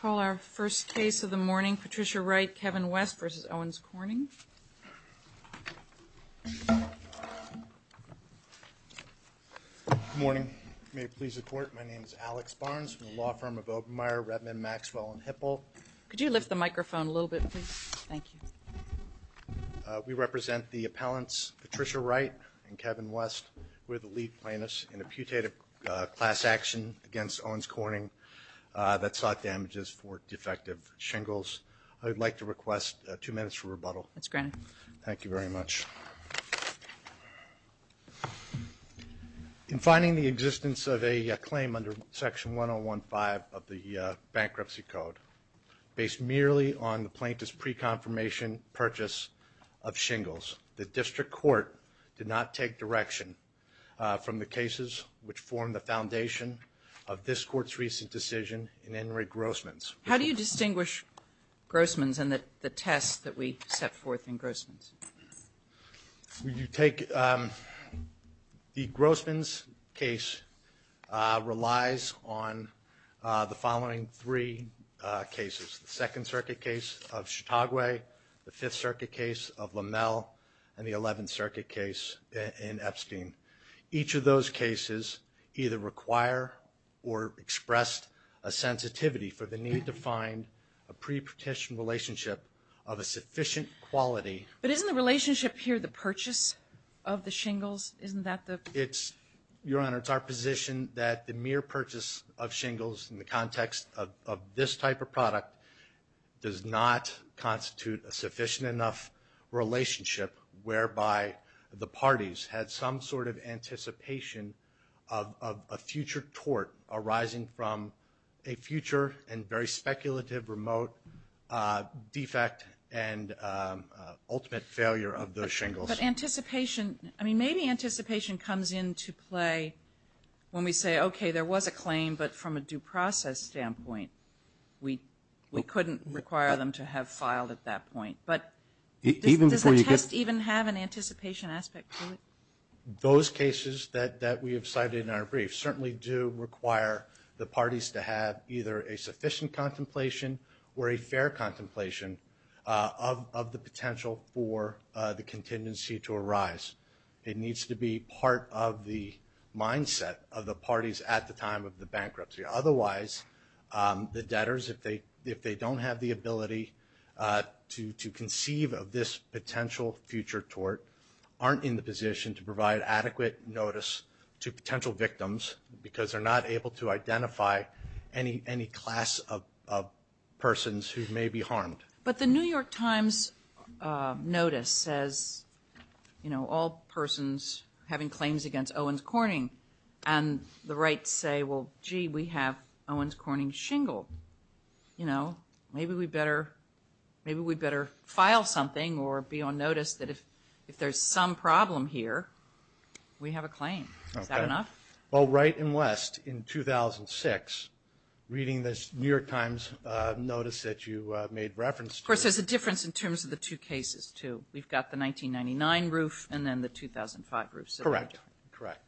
Call our first case of the morning, Patricia Wright, Kevin West v. Owens Corning. Good morning. May it please the Court, my name is Alex Barnes from the law firm of Obermeyer, Redmond, Maxwell, and Hipple. Could you lift the microphone a little bit, please? Thank you. We represent the appellants Patricia Wright and Kevin West. We're the lead plaintiffs in a putative class action against Owens Corning that sought damages for defective shingles. I would like to request two minutes for rebuttal. That's granted. Thank you very much. In finding the existence of a claim under Section 1015 of the Bankruptcy Code based merely on the plaintiff's pre-confirmation purchase of shingles, the district court did not take direction from the cases which formed the foundation of this court's recent decision in Henry Grossman's. How do you distinguish Grossman's and the tests that we set forth in Grossman's? You take the Grossman's case relies on the following three cases, the Second Circuit case of Chautauqua, the Fifth Circuit case of LaMelle, and the Eleventh Circuit case in Epstein. Each of those cases either require or expressed a sensitivity for the need to find a pre-petition relationship of a sufficient quality. But isn't the relationship here the purchase of the shingles? Isn't that the? Your Honor, it's our position that the mere purchase of shingles in the context of this type of product does not constitute a sufficient enough relationship whereby the parties had some sort of anticipation of a future tort arising from a future and very speculative, remote defect and ultimate failure of the shingles. But anticipation, I mean, maybe anticipation comes into play when we say, okay, there was a claim, but from a due process standpoint, we couldn't require them to have filed at that point. But does the test even have an anticipation aspect to it? Those cases that we have cited in our brief certainly do require the parties to have either a sufficient contemplation or a fair contemplation of the potential for the contingency to arise. It needs to be part of the mindset of the parties at the time of the bankruptcy. Otherwise, the debtors, if they don't have the ability to conceive of this potential future tort, aren't in the position to provide adequate notice to potential victims because they're not able to identify any class of persons who may be harmed. But the New York Times notice says, you know, all persons having claims against Owens Corning. And the rights say, well, gee, we have Owens Corning shingled. You know, maybe we better file something or be on notice that if there's some problem here, we have a claim. Is that enough? Well, right and left in 2006, reading this New York Times notice that you made reference to. Of course, there's a difference in terms of the two cases, too. We've got the 1999 roof and then the 2005 roof. Correct. Correct.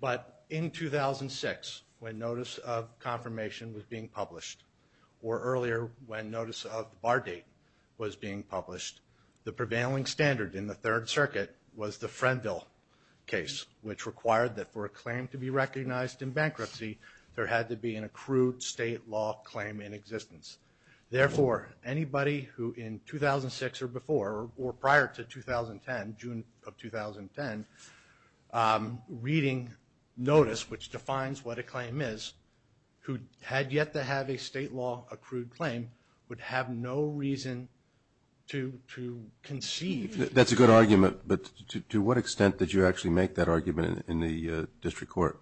But in 2006, when notice of confirmation was being published, or earlier when notice of the bar date was being published, the prevailing standard in the Third Circuit was the Frenville case, which required that for a claim to be recognized in bankruptcy, there had to be an accrued state law claim in existence. Therefore, anybody who in 2006 or before, or prior to 2010, June of 2010, reading notice, which defines what a claim is, who had yet to have a state law accrued claim, would have no reason to conceive. That's a good argument, but to what extent did you actually make that argument in the district court?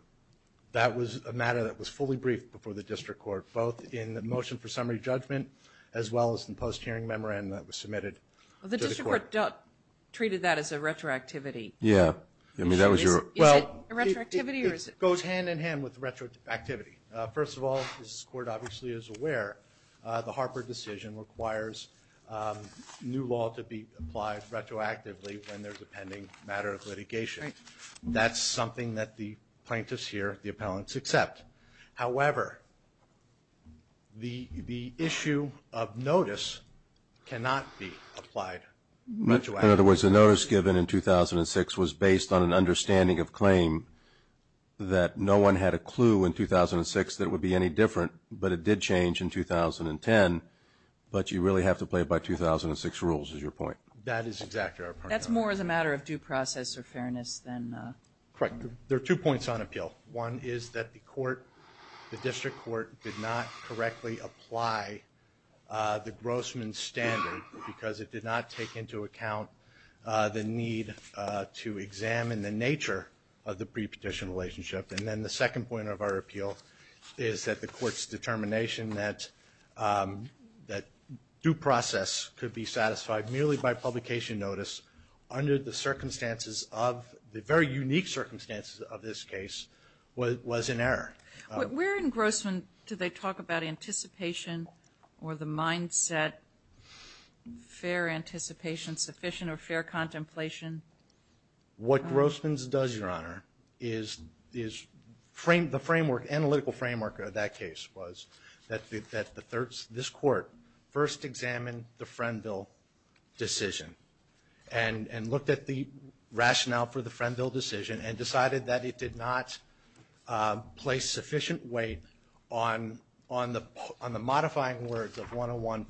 That was a matter that was fully briefed before the district court, both in the motion for summary judgment as well as the post-hearing memorandum that was submitted to the court. The district court treated that as a retroactivity. Yeah. Is it a retroactivity? Well, it goes hand-in-hand with retroactivity. First of all, as the court obviously is aware, the Harper decision requires new law to be applied retroactively when there's a pending matter of litigation. That's something that the plaintiffs here, the appellants, accept. However, the issue of notice cannot be applied retroactively. In other words, the notice given in 2006 was based on an understanding of claim that no one had a clue in 2006 that it would be any different, but it did change in 2010, but you really have to play by 2006 rules, is your point? That is exactly our point. That's more as a matter of due process or fairness than the... Correct. There are two points on appeal. One is that the court, the district court, did not correctly apply the Grossman standard because it did not take into account the need to examine the nature of the pre-petition relationship. And then the second point of our appeal is that the court's determination that due process could be satisfied merely by publication notice under the circumstances of the very unique circumstances of this case was in error. Where in Grossman do they talk about anticipation or the mindset, fair anticipation, sufficient or fair contemplation? What Grossman does, Your Honor, is the analytical framework of that case was that this court first examined the Frenville decision and looked at the rationale for the Frenville decision and decided that it did not place sufficient weight on the modifying words of 101-5.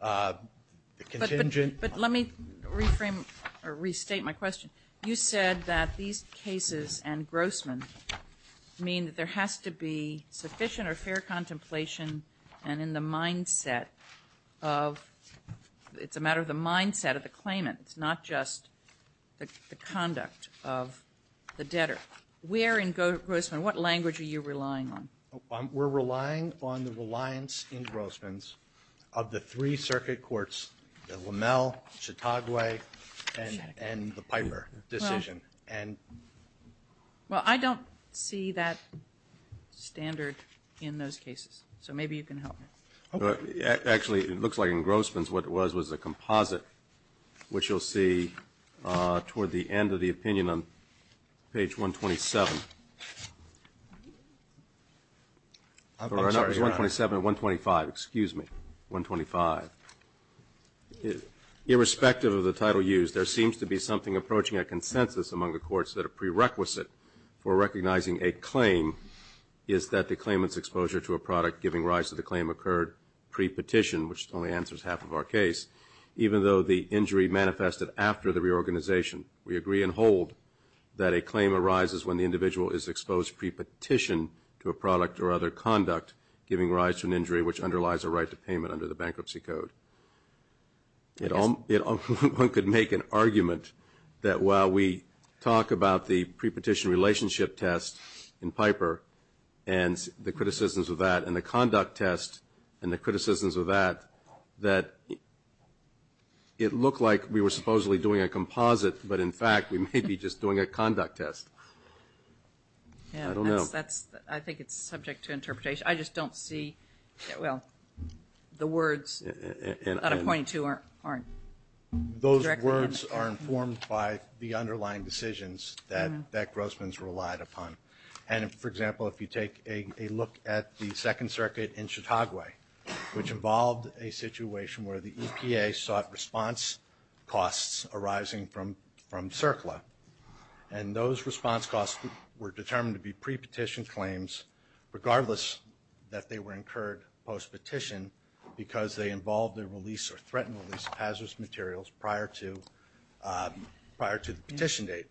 But let me reframe or restate my question. You said that these cases and Grossman mean that there has to be sufficient or fair contemplation and in the mindset of, it's a matter of the mindset of the claimant. It's not just the conduct of the debtor. Where in Grossman, what language are you relying on? We're relying on the reliance in Grossman's of the three circuit courts, LaMelle, Chautauqua, and the Piper decision. Well, I don't see that standard in those cases. So maybe you can help me. Actually, it looks like in Grossman's what it was was a composite, which you'll see toward the end of the opinion on page 127. I'm sorry, Your Honor. 127 and 125. Excuse me. 125. Irrespective of the title used, there seems to be something approaching a consensus among the courts that a prerequisite for recognizing a claim is that the claimant's exposure to a product giving rise to the claim occurred pre-petition, which only answers half of our case, even though the injury manifested after the reorganization. We agree and hold that a claim arises when the individual is exposed pre-petition to a product or other conduct giving rise to an injury which underlies a right to payment under the bankruptcy code. One could make an argument that while we talk about the pre-petition relationship test in Piper and the criticisms of that and the conduct test and the criticisms of that, that it looked like we were supposedly doing a composite, but in fact we may be just doing a conduct test. I don't know. I think it's subject to interpretation. I just don't see, well, the words that I'm pointing to aren't directly informed. Those words are informed by the underlying decisions that Grossman's relied upon. And, for example, if you take a look at the Second Circuit in Chautauqua, which involved a situation where the EPA sought response costs arising from CERCLA, and those response costs were determined to be pre-petition claims, regardless that they were incurred post-petition because they involved the release or threatened release of hazardous materials prior to the petition date.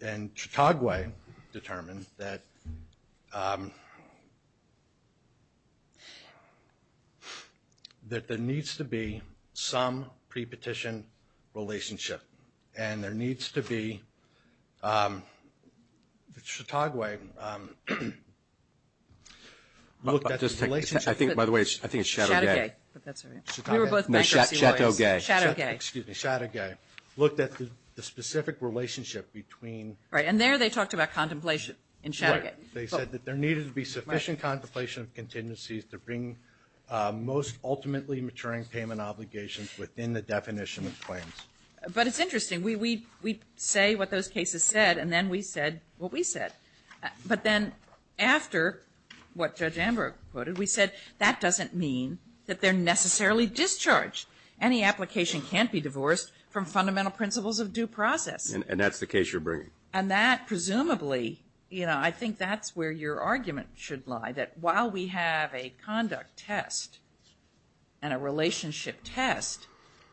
And Chautauqua determined that there needs to be some pre-petition relationship, and there needs to be Chautauqua looked at this relationship. I think, by the way, it's Chateau Gay. We were both bankruptcy lawyers. Chateau Gay. Excuse me. Chateau Gay looked at the specific relationship between. Right. And there they talked about contemplation in Chateau Gay. Right. They said that there needed to be sufficient contemplation of contingencies to bring most ultimately maturing payment obligations within the definition of claims. But it's interesting. We say what those cases said, and then we said what we said. But then after what Judge Amber quoted, we said that doesn't mean that they're necessarily discharged. Any application can't be divorced from fundamental principles of due process. And that's the case you're bringing. And that presumably, you know, I think that's where your argument should lie, that while we have a conduct test and a relationship test,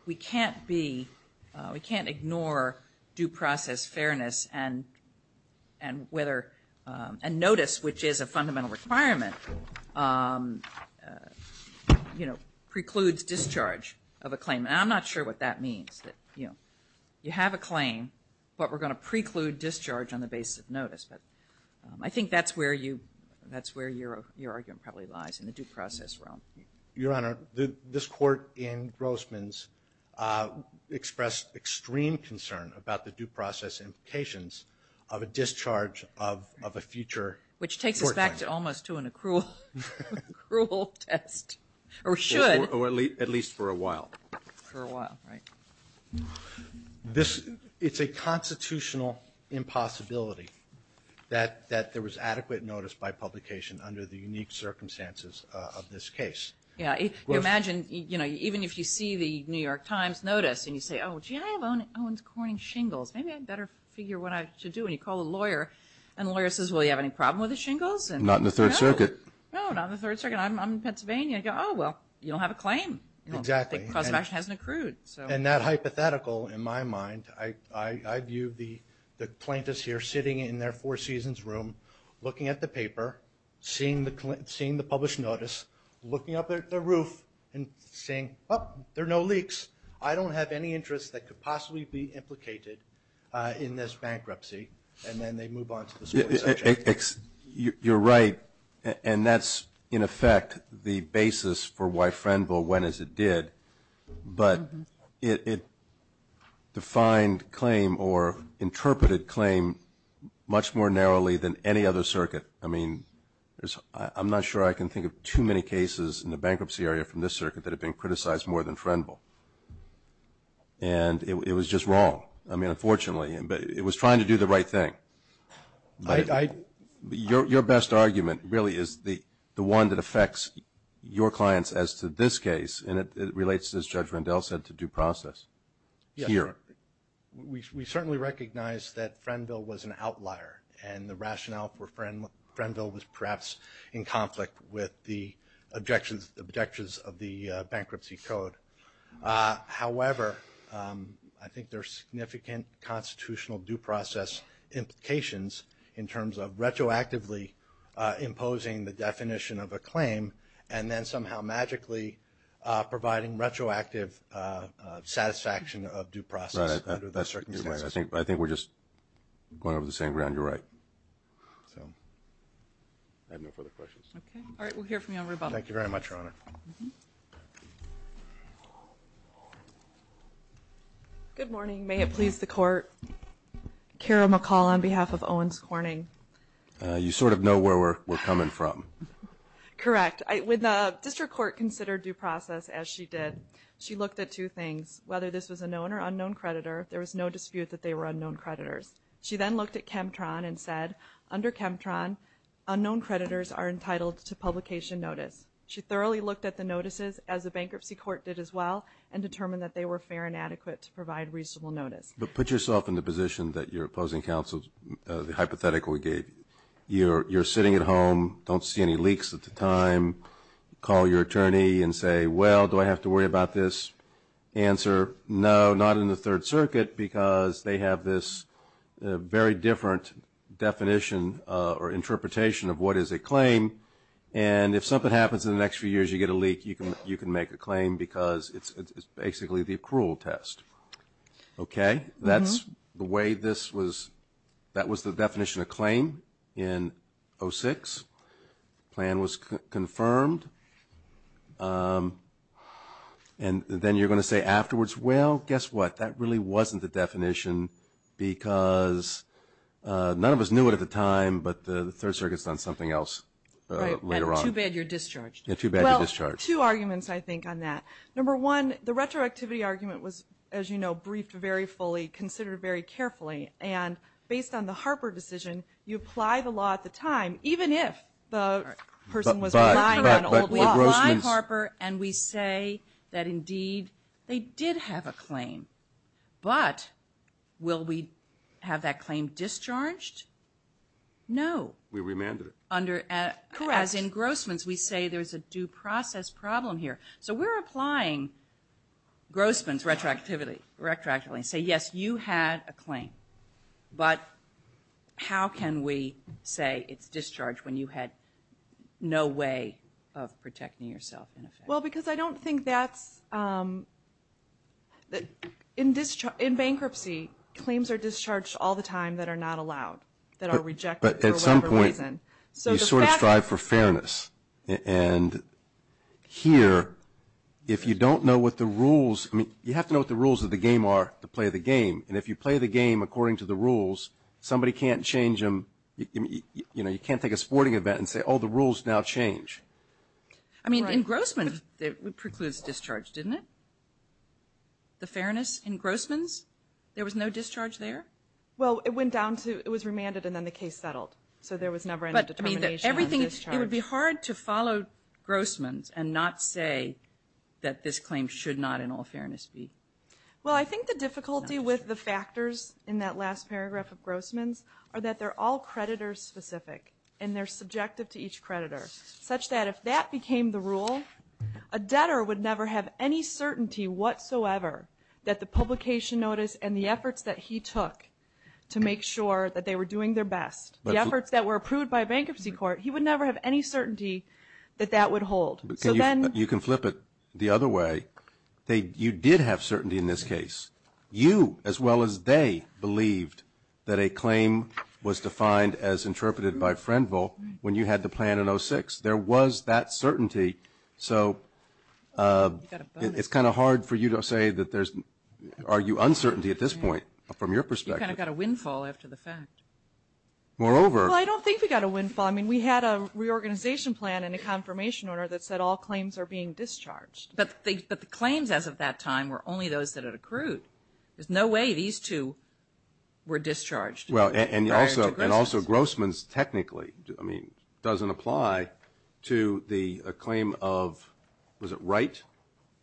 we can't ignore due process fairness and whether a notice, which is a fundamental requirement, you know, precludes discharge of a claim. And I'm not sure what that means, that, you know, you have a claim, but we're going to preclude discharge on the basis of notice. But I think that's where your argument probably lies, in the due process realm. Your Honor, this Court in Grossman's expressed extreme concern about the due process implications of a discharge of a future court claim. Which takes us back to almost to an accrual test, or should. Or at least for a while. For a while, right. It's a constitutional impossibility that there was adequate notice by publication under the unique circumstances of this case. Yeah, you imagine, you know, even if you see the New York Times notice and you say, oh, gee, I have Owens-Corning shingles. Maybe I better figure what I should do. And you call a lawyer and the lawyer says, well, do you have any problem with the shingles? Not in the Third Circuit. No, not in the Third Circuit. I'm in Pennsylvania. Oh, well, you don't have a claim. Exactly. The cause of action hasn't accrued. And that hypothetical, in my mind, I view the plaintiffs here sitting in their Four Seasons room, looking at the paper, seeing the published notice, looking up at the roof and saying, oh, there are no leaks. I don't have any interests that could possibly be implicated in this bankruptcy. And then they move on to the small section. You're right. And that's, in effect, the basis for why Frenville went as it did. But it defined claim or interpreted claim much more narrowly than any other circuit. I mean, I'm not sure I can think of too many cases in the bankruptcy area from this circuit that have been criticized more than Frenville. And it was just wrong. I mean, unfortunately. But it was trying to do the right thing. Your best argument really is the one that affects your clients as to this case, and it relates, as Judge Rendell said, to due process here. Yes. We certainly recognize that Frenville was an outlier, and the rationale for Frenville was perhaps in conflict with the objections of the bankruptcy code. However, I think there are significant constitutional due process implications in terms of retroactively imposing the definition of a claim and then somehow magically providing retroactive satisfaction of due process under the circumstances. I think we're just going over the same ground. You're right. I have no further questions. Okay. All right. We'll hear from you on rebuttal. Thank you very much, Your Honor. Good morning. May it please the Court. Kara McCall on behalf of Owens Corning. You sort of know where we're coming from. Correct. When the district court considered due process, as she did, she looked at two things. Whether this was a known or unknown creditor, there was no dispute that they were unknown creditors. She then looked at Chemtron and said, under Chemtron, unknown creditors are entitled to publication notice. She thoroughly looked at the notices, as the bankruptcy court did as well, and determined that they were fair and adequate to provide reasonable notice. But put yourself in the position that your opposing counsel hypothetically gave you. You're sitting at home, don't see any leaks at the time, call your attorney and say, well, do I have to worry about this? Answer, no, not in the Third Circuit because they have this very different definition or interpretation of what is a claim. And if something happens in the next few years, you get a leak, you can make a claim because it's basically the accrual test. Okay? That's the way this was. That was the definition of claim in 06. The plan was confirmed. And then you're going to say afterwards, well, guess what? That really wasn't the definition because none of us knew it at the time, but the Third Circuit's done something else later on. Right, and too bad you're discharged. Yeah, too bad you're discharged. Well, two arguments, I think, on that. Number one, the retroactivity argument was, as you know, briefed very fully, considered very carefully, and based on the Harper decision, you apply the law at the time, even if the person was lying about an old law. But we apply Harper and we say that, indeed, they did have a claim. But will we have that claim discharged? No. We remanded it. Correct. As in Grossman's, we say there's a due process problem here. So we're applying Grossman's retroactivity and say, yes, you had a claim, but how can we say it's discharged when you had no way of protecting yourself, in effect? Well, because I don't think that's – in bankruptcy, claims are discharged all the time that are not allowed, that are rejected for whatever reason. But at some point, you sort of strive for fairness. And here, if you don't know what the rules – I mean, you have to know what the rules of the game are to play the game. And if you play the game according to the rules, somebody can't change them. You know, you can't take a sporting event and say, oh, the rules now change. I mean, in Grossman's, it precludes discharge, didn't it? The fairness in Grossman's, there was no discharge there? Well, it went down to – it was remanded and then the case settled. So there was never any determination on discharge. But, I mean, everything – it would be hard to follow Grossman's and not say that this claim should not, in all fairness, be. Well, I think the difficulty with the factors in that last paragraph of Grossman's are that they're all creditor-specific and they're subjective to each creditor, such that if that became the rule, a debtor would never have any certainty whatsoever that the publication notice and the efforts that he took to make sure that they were doing their best, the efforts that were approved by a bankruptcy court, he would never have any certainty that that would hold. You can flip it the other way. You did have certainty in this case. You, as well as they, believed that a claim was defined as interpreted by Friendville when you had the plan in 06. There was that certainty. So it's kind of hard for you to say that there's – argue uncertainty at this point from your perspective. You kind of got a windfall after the fact. Moreover – Well, I don't think we got a windfall. I mean, we had a reorganization plan and a confirmation order that said all claims are being discharged. But the claims as of that time were only those that had accrued. There's no way these two were discharged prior to Grossman's. Well, and also Grossman's technically, I mean, doesn't apply to the claim of – was it right?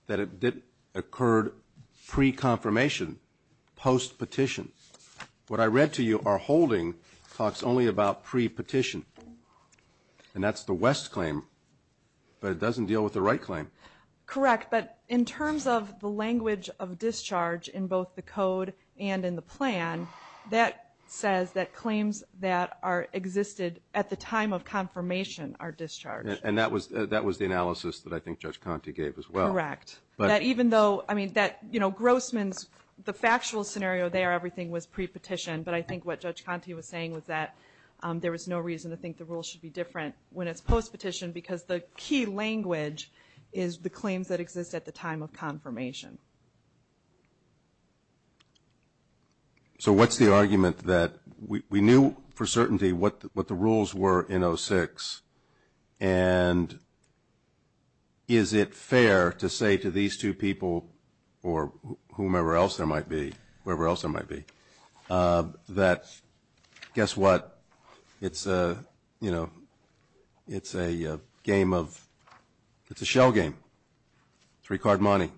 That it occurred pre-confirmation, post-petition. What I read to you, our holding talks only about pre-petition, and that's the West claim. But it doesn't deal with the right claim. Correct. But in terms of the language of discharge in both the code and in the plan, that says that claims that are existed at the time of confirmation are discharged. And that was the analysis that I think Judge Conte gave as well. Correct. That even though – I mean, that, you know, Grossman's, the factual scenario there, everything was pre-petition. But I think what Judge Conte was saying was that there was no reason to think the rules should be different when it's post-petition because the key language is the claims that exist at the time of confirmation. So what's the argument that we knew for certainty what the rules were in 06, and is it fair to say to these two people or whomever else there might be, that guess what, it's a, you know, it's a game of – it's a shell game. It's three-card money.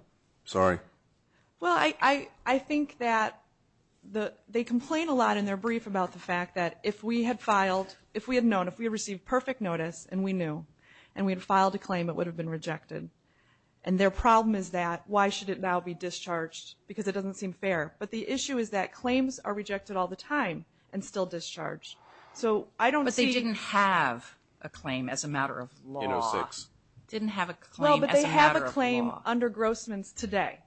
Sorry. Well, I think that they complain a lot in their brief about the fact that if we had filed – if we had known, if we had received perfect notice, and we knew, and we had filed a claim, it would have been rejected. And their problem is that why should it now be discharged because it doesn't seem fair. But the issue is that claims are rejected all the time and still discharged. So I don't see – But they didn't have a claim as a matter of law. In 06. Didn't have a claim as a matter of law. Well, but they have a claim under Grossman's today.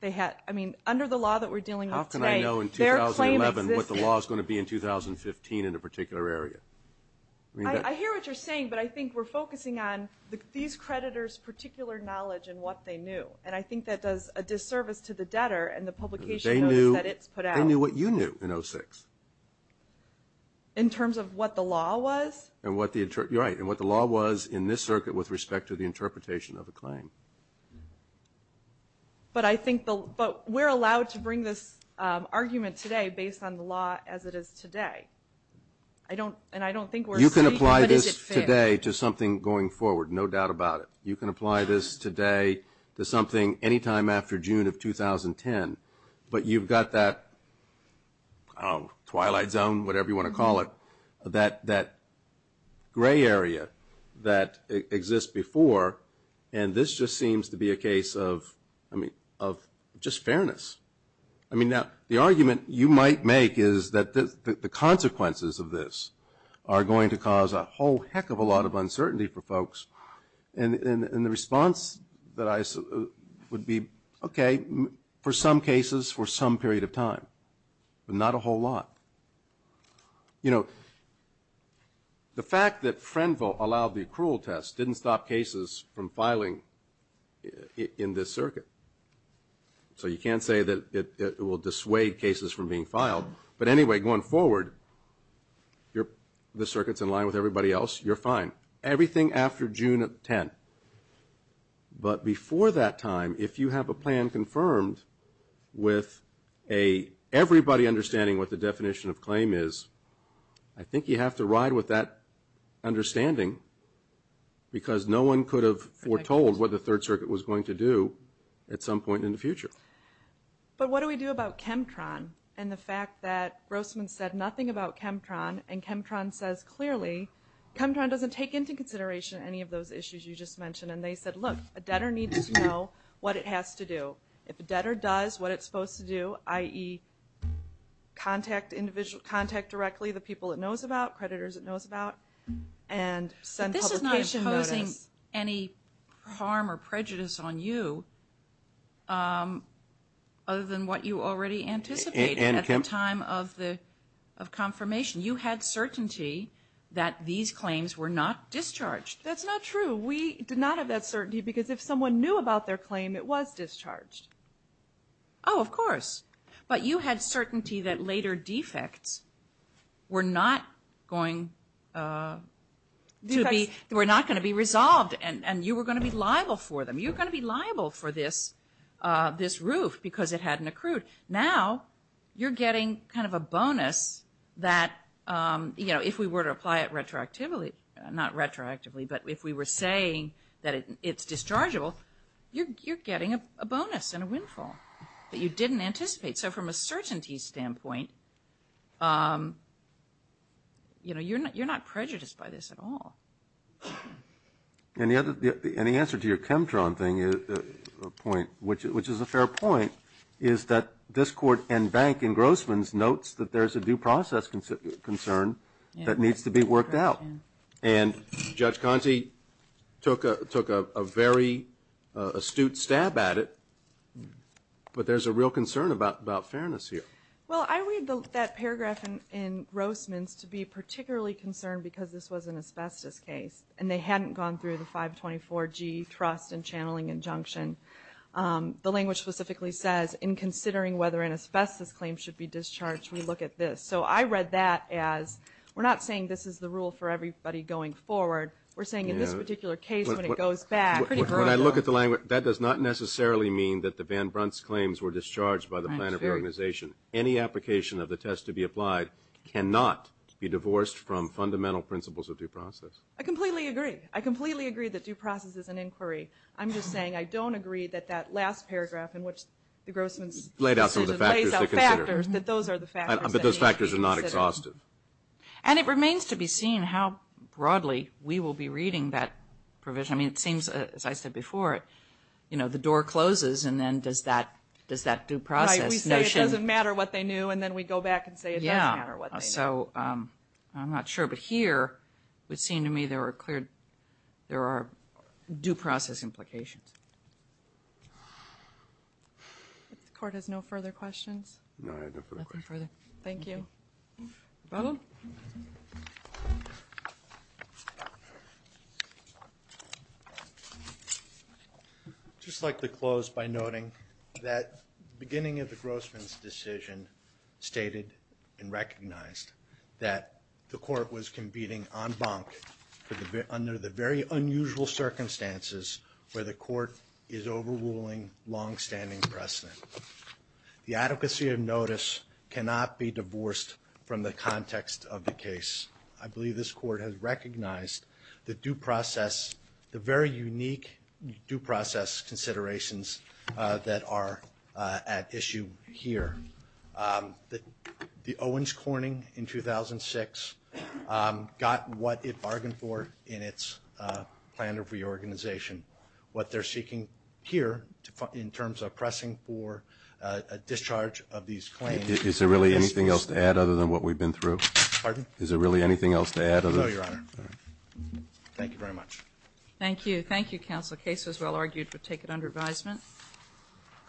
They had – I mean, under the law that we're dealing with today – I hear what you're saying, but I think we're focusing on these creditors' particular knowledge and what they knew, and I think that does a disservice to the debtor and the publication notes that it's put out. They knew what you knew in 06. In terms of what the law was? And what the – you're right. And what the law was in this circuit with respect to the interpretation of a claim. But I think the – but we're allowed to bring this argument today based on the law as it is today. I don't – and I don't think we're – You can apply this today to something going forward, no doubt about it. You can apply this today to something any time after June of 2010. But you've got that – I don't know, twilight zone, whatever you want to call it, that gray area that exists before, and this just seems to be a case of – I mean, of just fairness. I mean, now, the argument you might make is that the consequences of this are going to cause a whole heck of a lot of uncertainty for folks. And the response that I – would be, okay, for some cases for some period of time, but not a whole lot. You know, the fact that Frenvo allowed the accrual test didn't stop cases from filing in this circuit. So you can't say that it will dissuade cases from being filed. But anyway, going forward, the circuit's in line with everybody else. You're fine. Everything after June of 2010. But before that time, if you have a plan confirmed with a – everybody understanding what the definition of claim is, I think you have to ride with that understanding because no one could have foretold what the Third Circuit was going to do at some point in the future. But what do we do about Chemtron and the fact that Grossman said nothing about Chemtron and Chemtron says clearly – Chemtron doesn't take into consideration any of those issues you just mentioned. And they said, look, a debtor needs to know what it has to do. If a debtor does what it's supposed to do, i.e., contact directly the people it knows about, creditors it knows about, and send publication notice. But this is not imposing any harm or prejudice on you, other than what you already anticipated at the time of confirmation. You had certainty that these claims were not discharged. That's not true. We did not have that certainty because if someone knew about their claim, it was discharged. Oh, of course. But you had certainty that later defects were not going to be resolved and you were going to be liable for them. You were going to be liable for this roof because it hadn't accrued. Now you're getting kind of a bonus that, you know, if we were to apply it retroactively – not retroactively, but if we were saying that it's dischargeable, you're getting a bonus and a windfall that you didn't anticipate. So from a certainty standpoint, you know, you're not prejudiced by this at all. Any answer to your Chemtron point, which is a fair point, is that this Court and Bank and Grossman's notes that there's a due process concern that needs to be worked out. And Judge Conte took a very astute stab at it, but there's a real concern about fairness here. Well, I read that paragraph in Grossman's to be particularly concerned because this was an asbestos case and they hadn't gone through the 524G trust and channeling injunction. The language specifically says, in considering whether an asbestos claim should be discharged, we look at this. So I read that as, we're not saying this is the rule for everybody going forward. We're saying in this particular case, when it goes back – When I look at the language, that does not necessarily mean that the Van Brunt's claims were discharged by the plan of the organization. Any application of the test to be applied cannot be divorced from fundamental principles of due process. I completely agree. I completely agree that due process is an inquiry. I'm just saying I don't agree that that last paragraph in which the Grossman's – But those factors are not exhaustive. And it remains to be seen how broadly we will be reading that provision. I mean, it seems, as I said before, you know, the door closes and then does that due process notion – Right, we say it doesn't matter what they knew and then we go back and say it does matter what they knew. Yeah, so I'm not sure. But here, it would seem to me there are clear, there are due process implications. If the Court has no further questions. No, I have no further questions. Nothing further. Thank you. Just like to close by noting that the beginning of the Grossman's decision stated and recognized that the Court was competing en banc under the very unusual circumstances where the Court is overruling longstanding precedent. The adequacy of notice cannot be divorced from the context of the case. I believe this Court has recognized the due process, the very unique due process considerations that are at issue here. The Owens Corning in 2006 got what it bargained for in its plan of reorganization. What they're seeking here in terms of pressing for a discharge of these claims – Is there really anything else to add other than what we've been through? Pardon? Is there really anything else to add other than – No, Your Honor. All right. Thank you very much. Thank you. Thank you, Counsel. The case was well argued. We'll take it under advisement.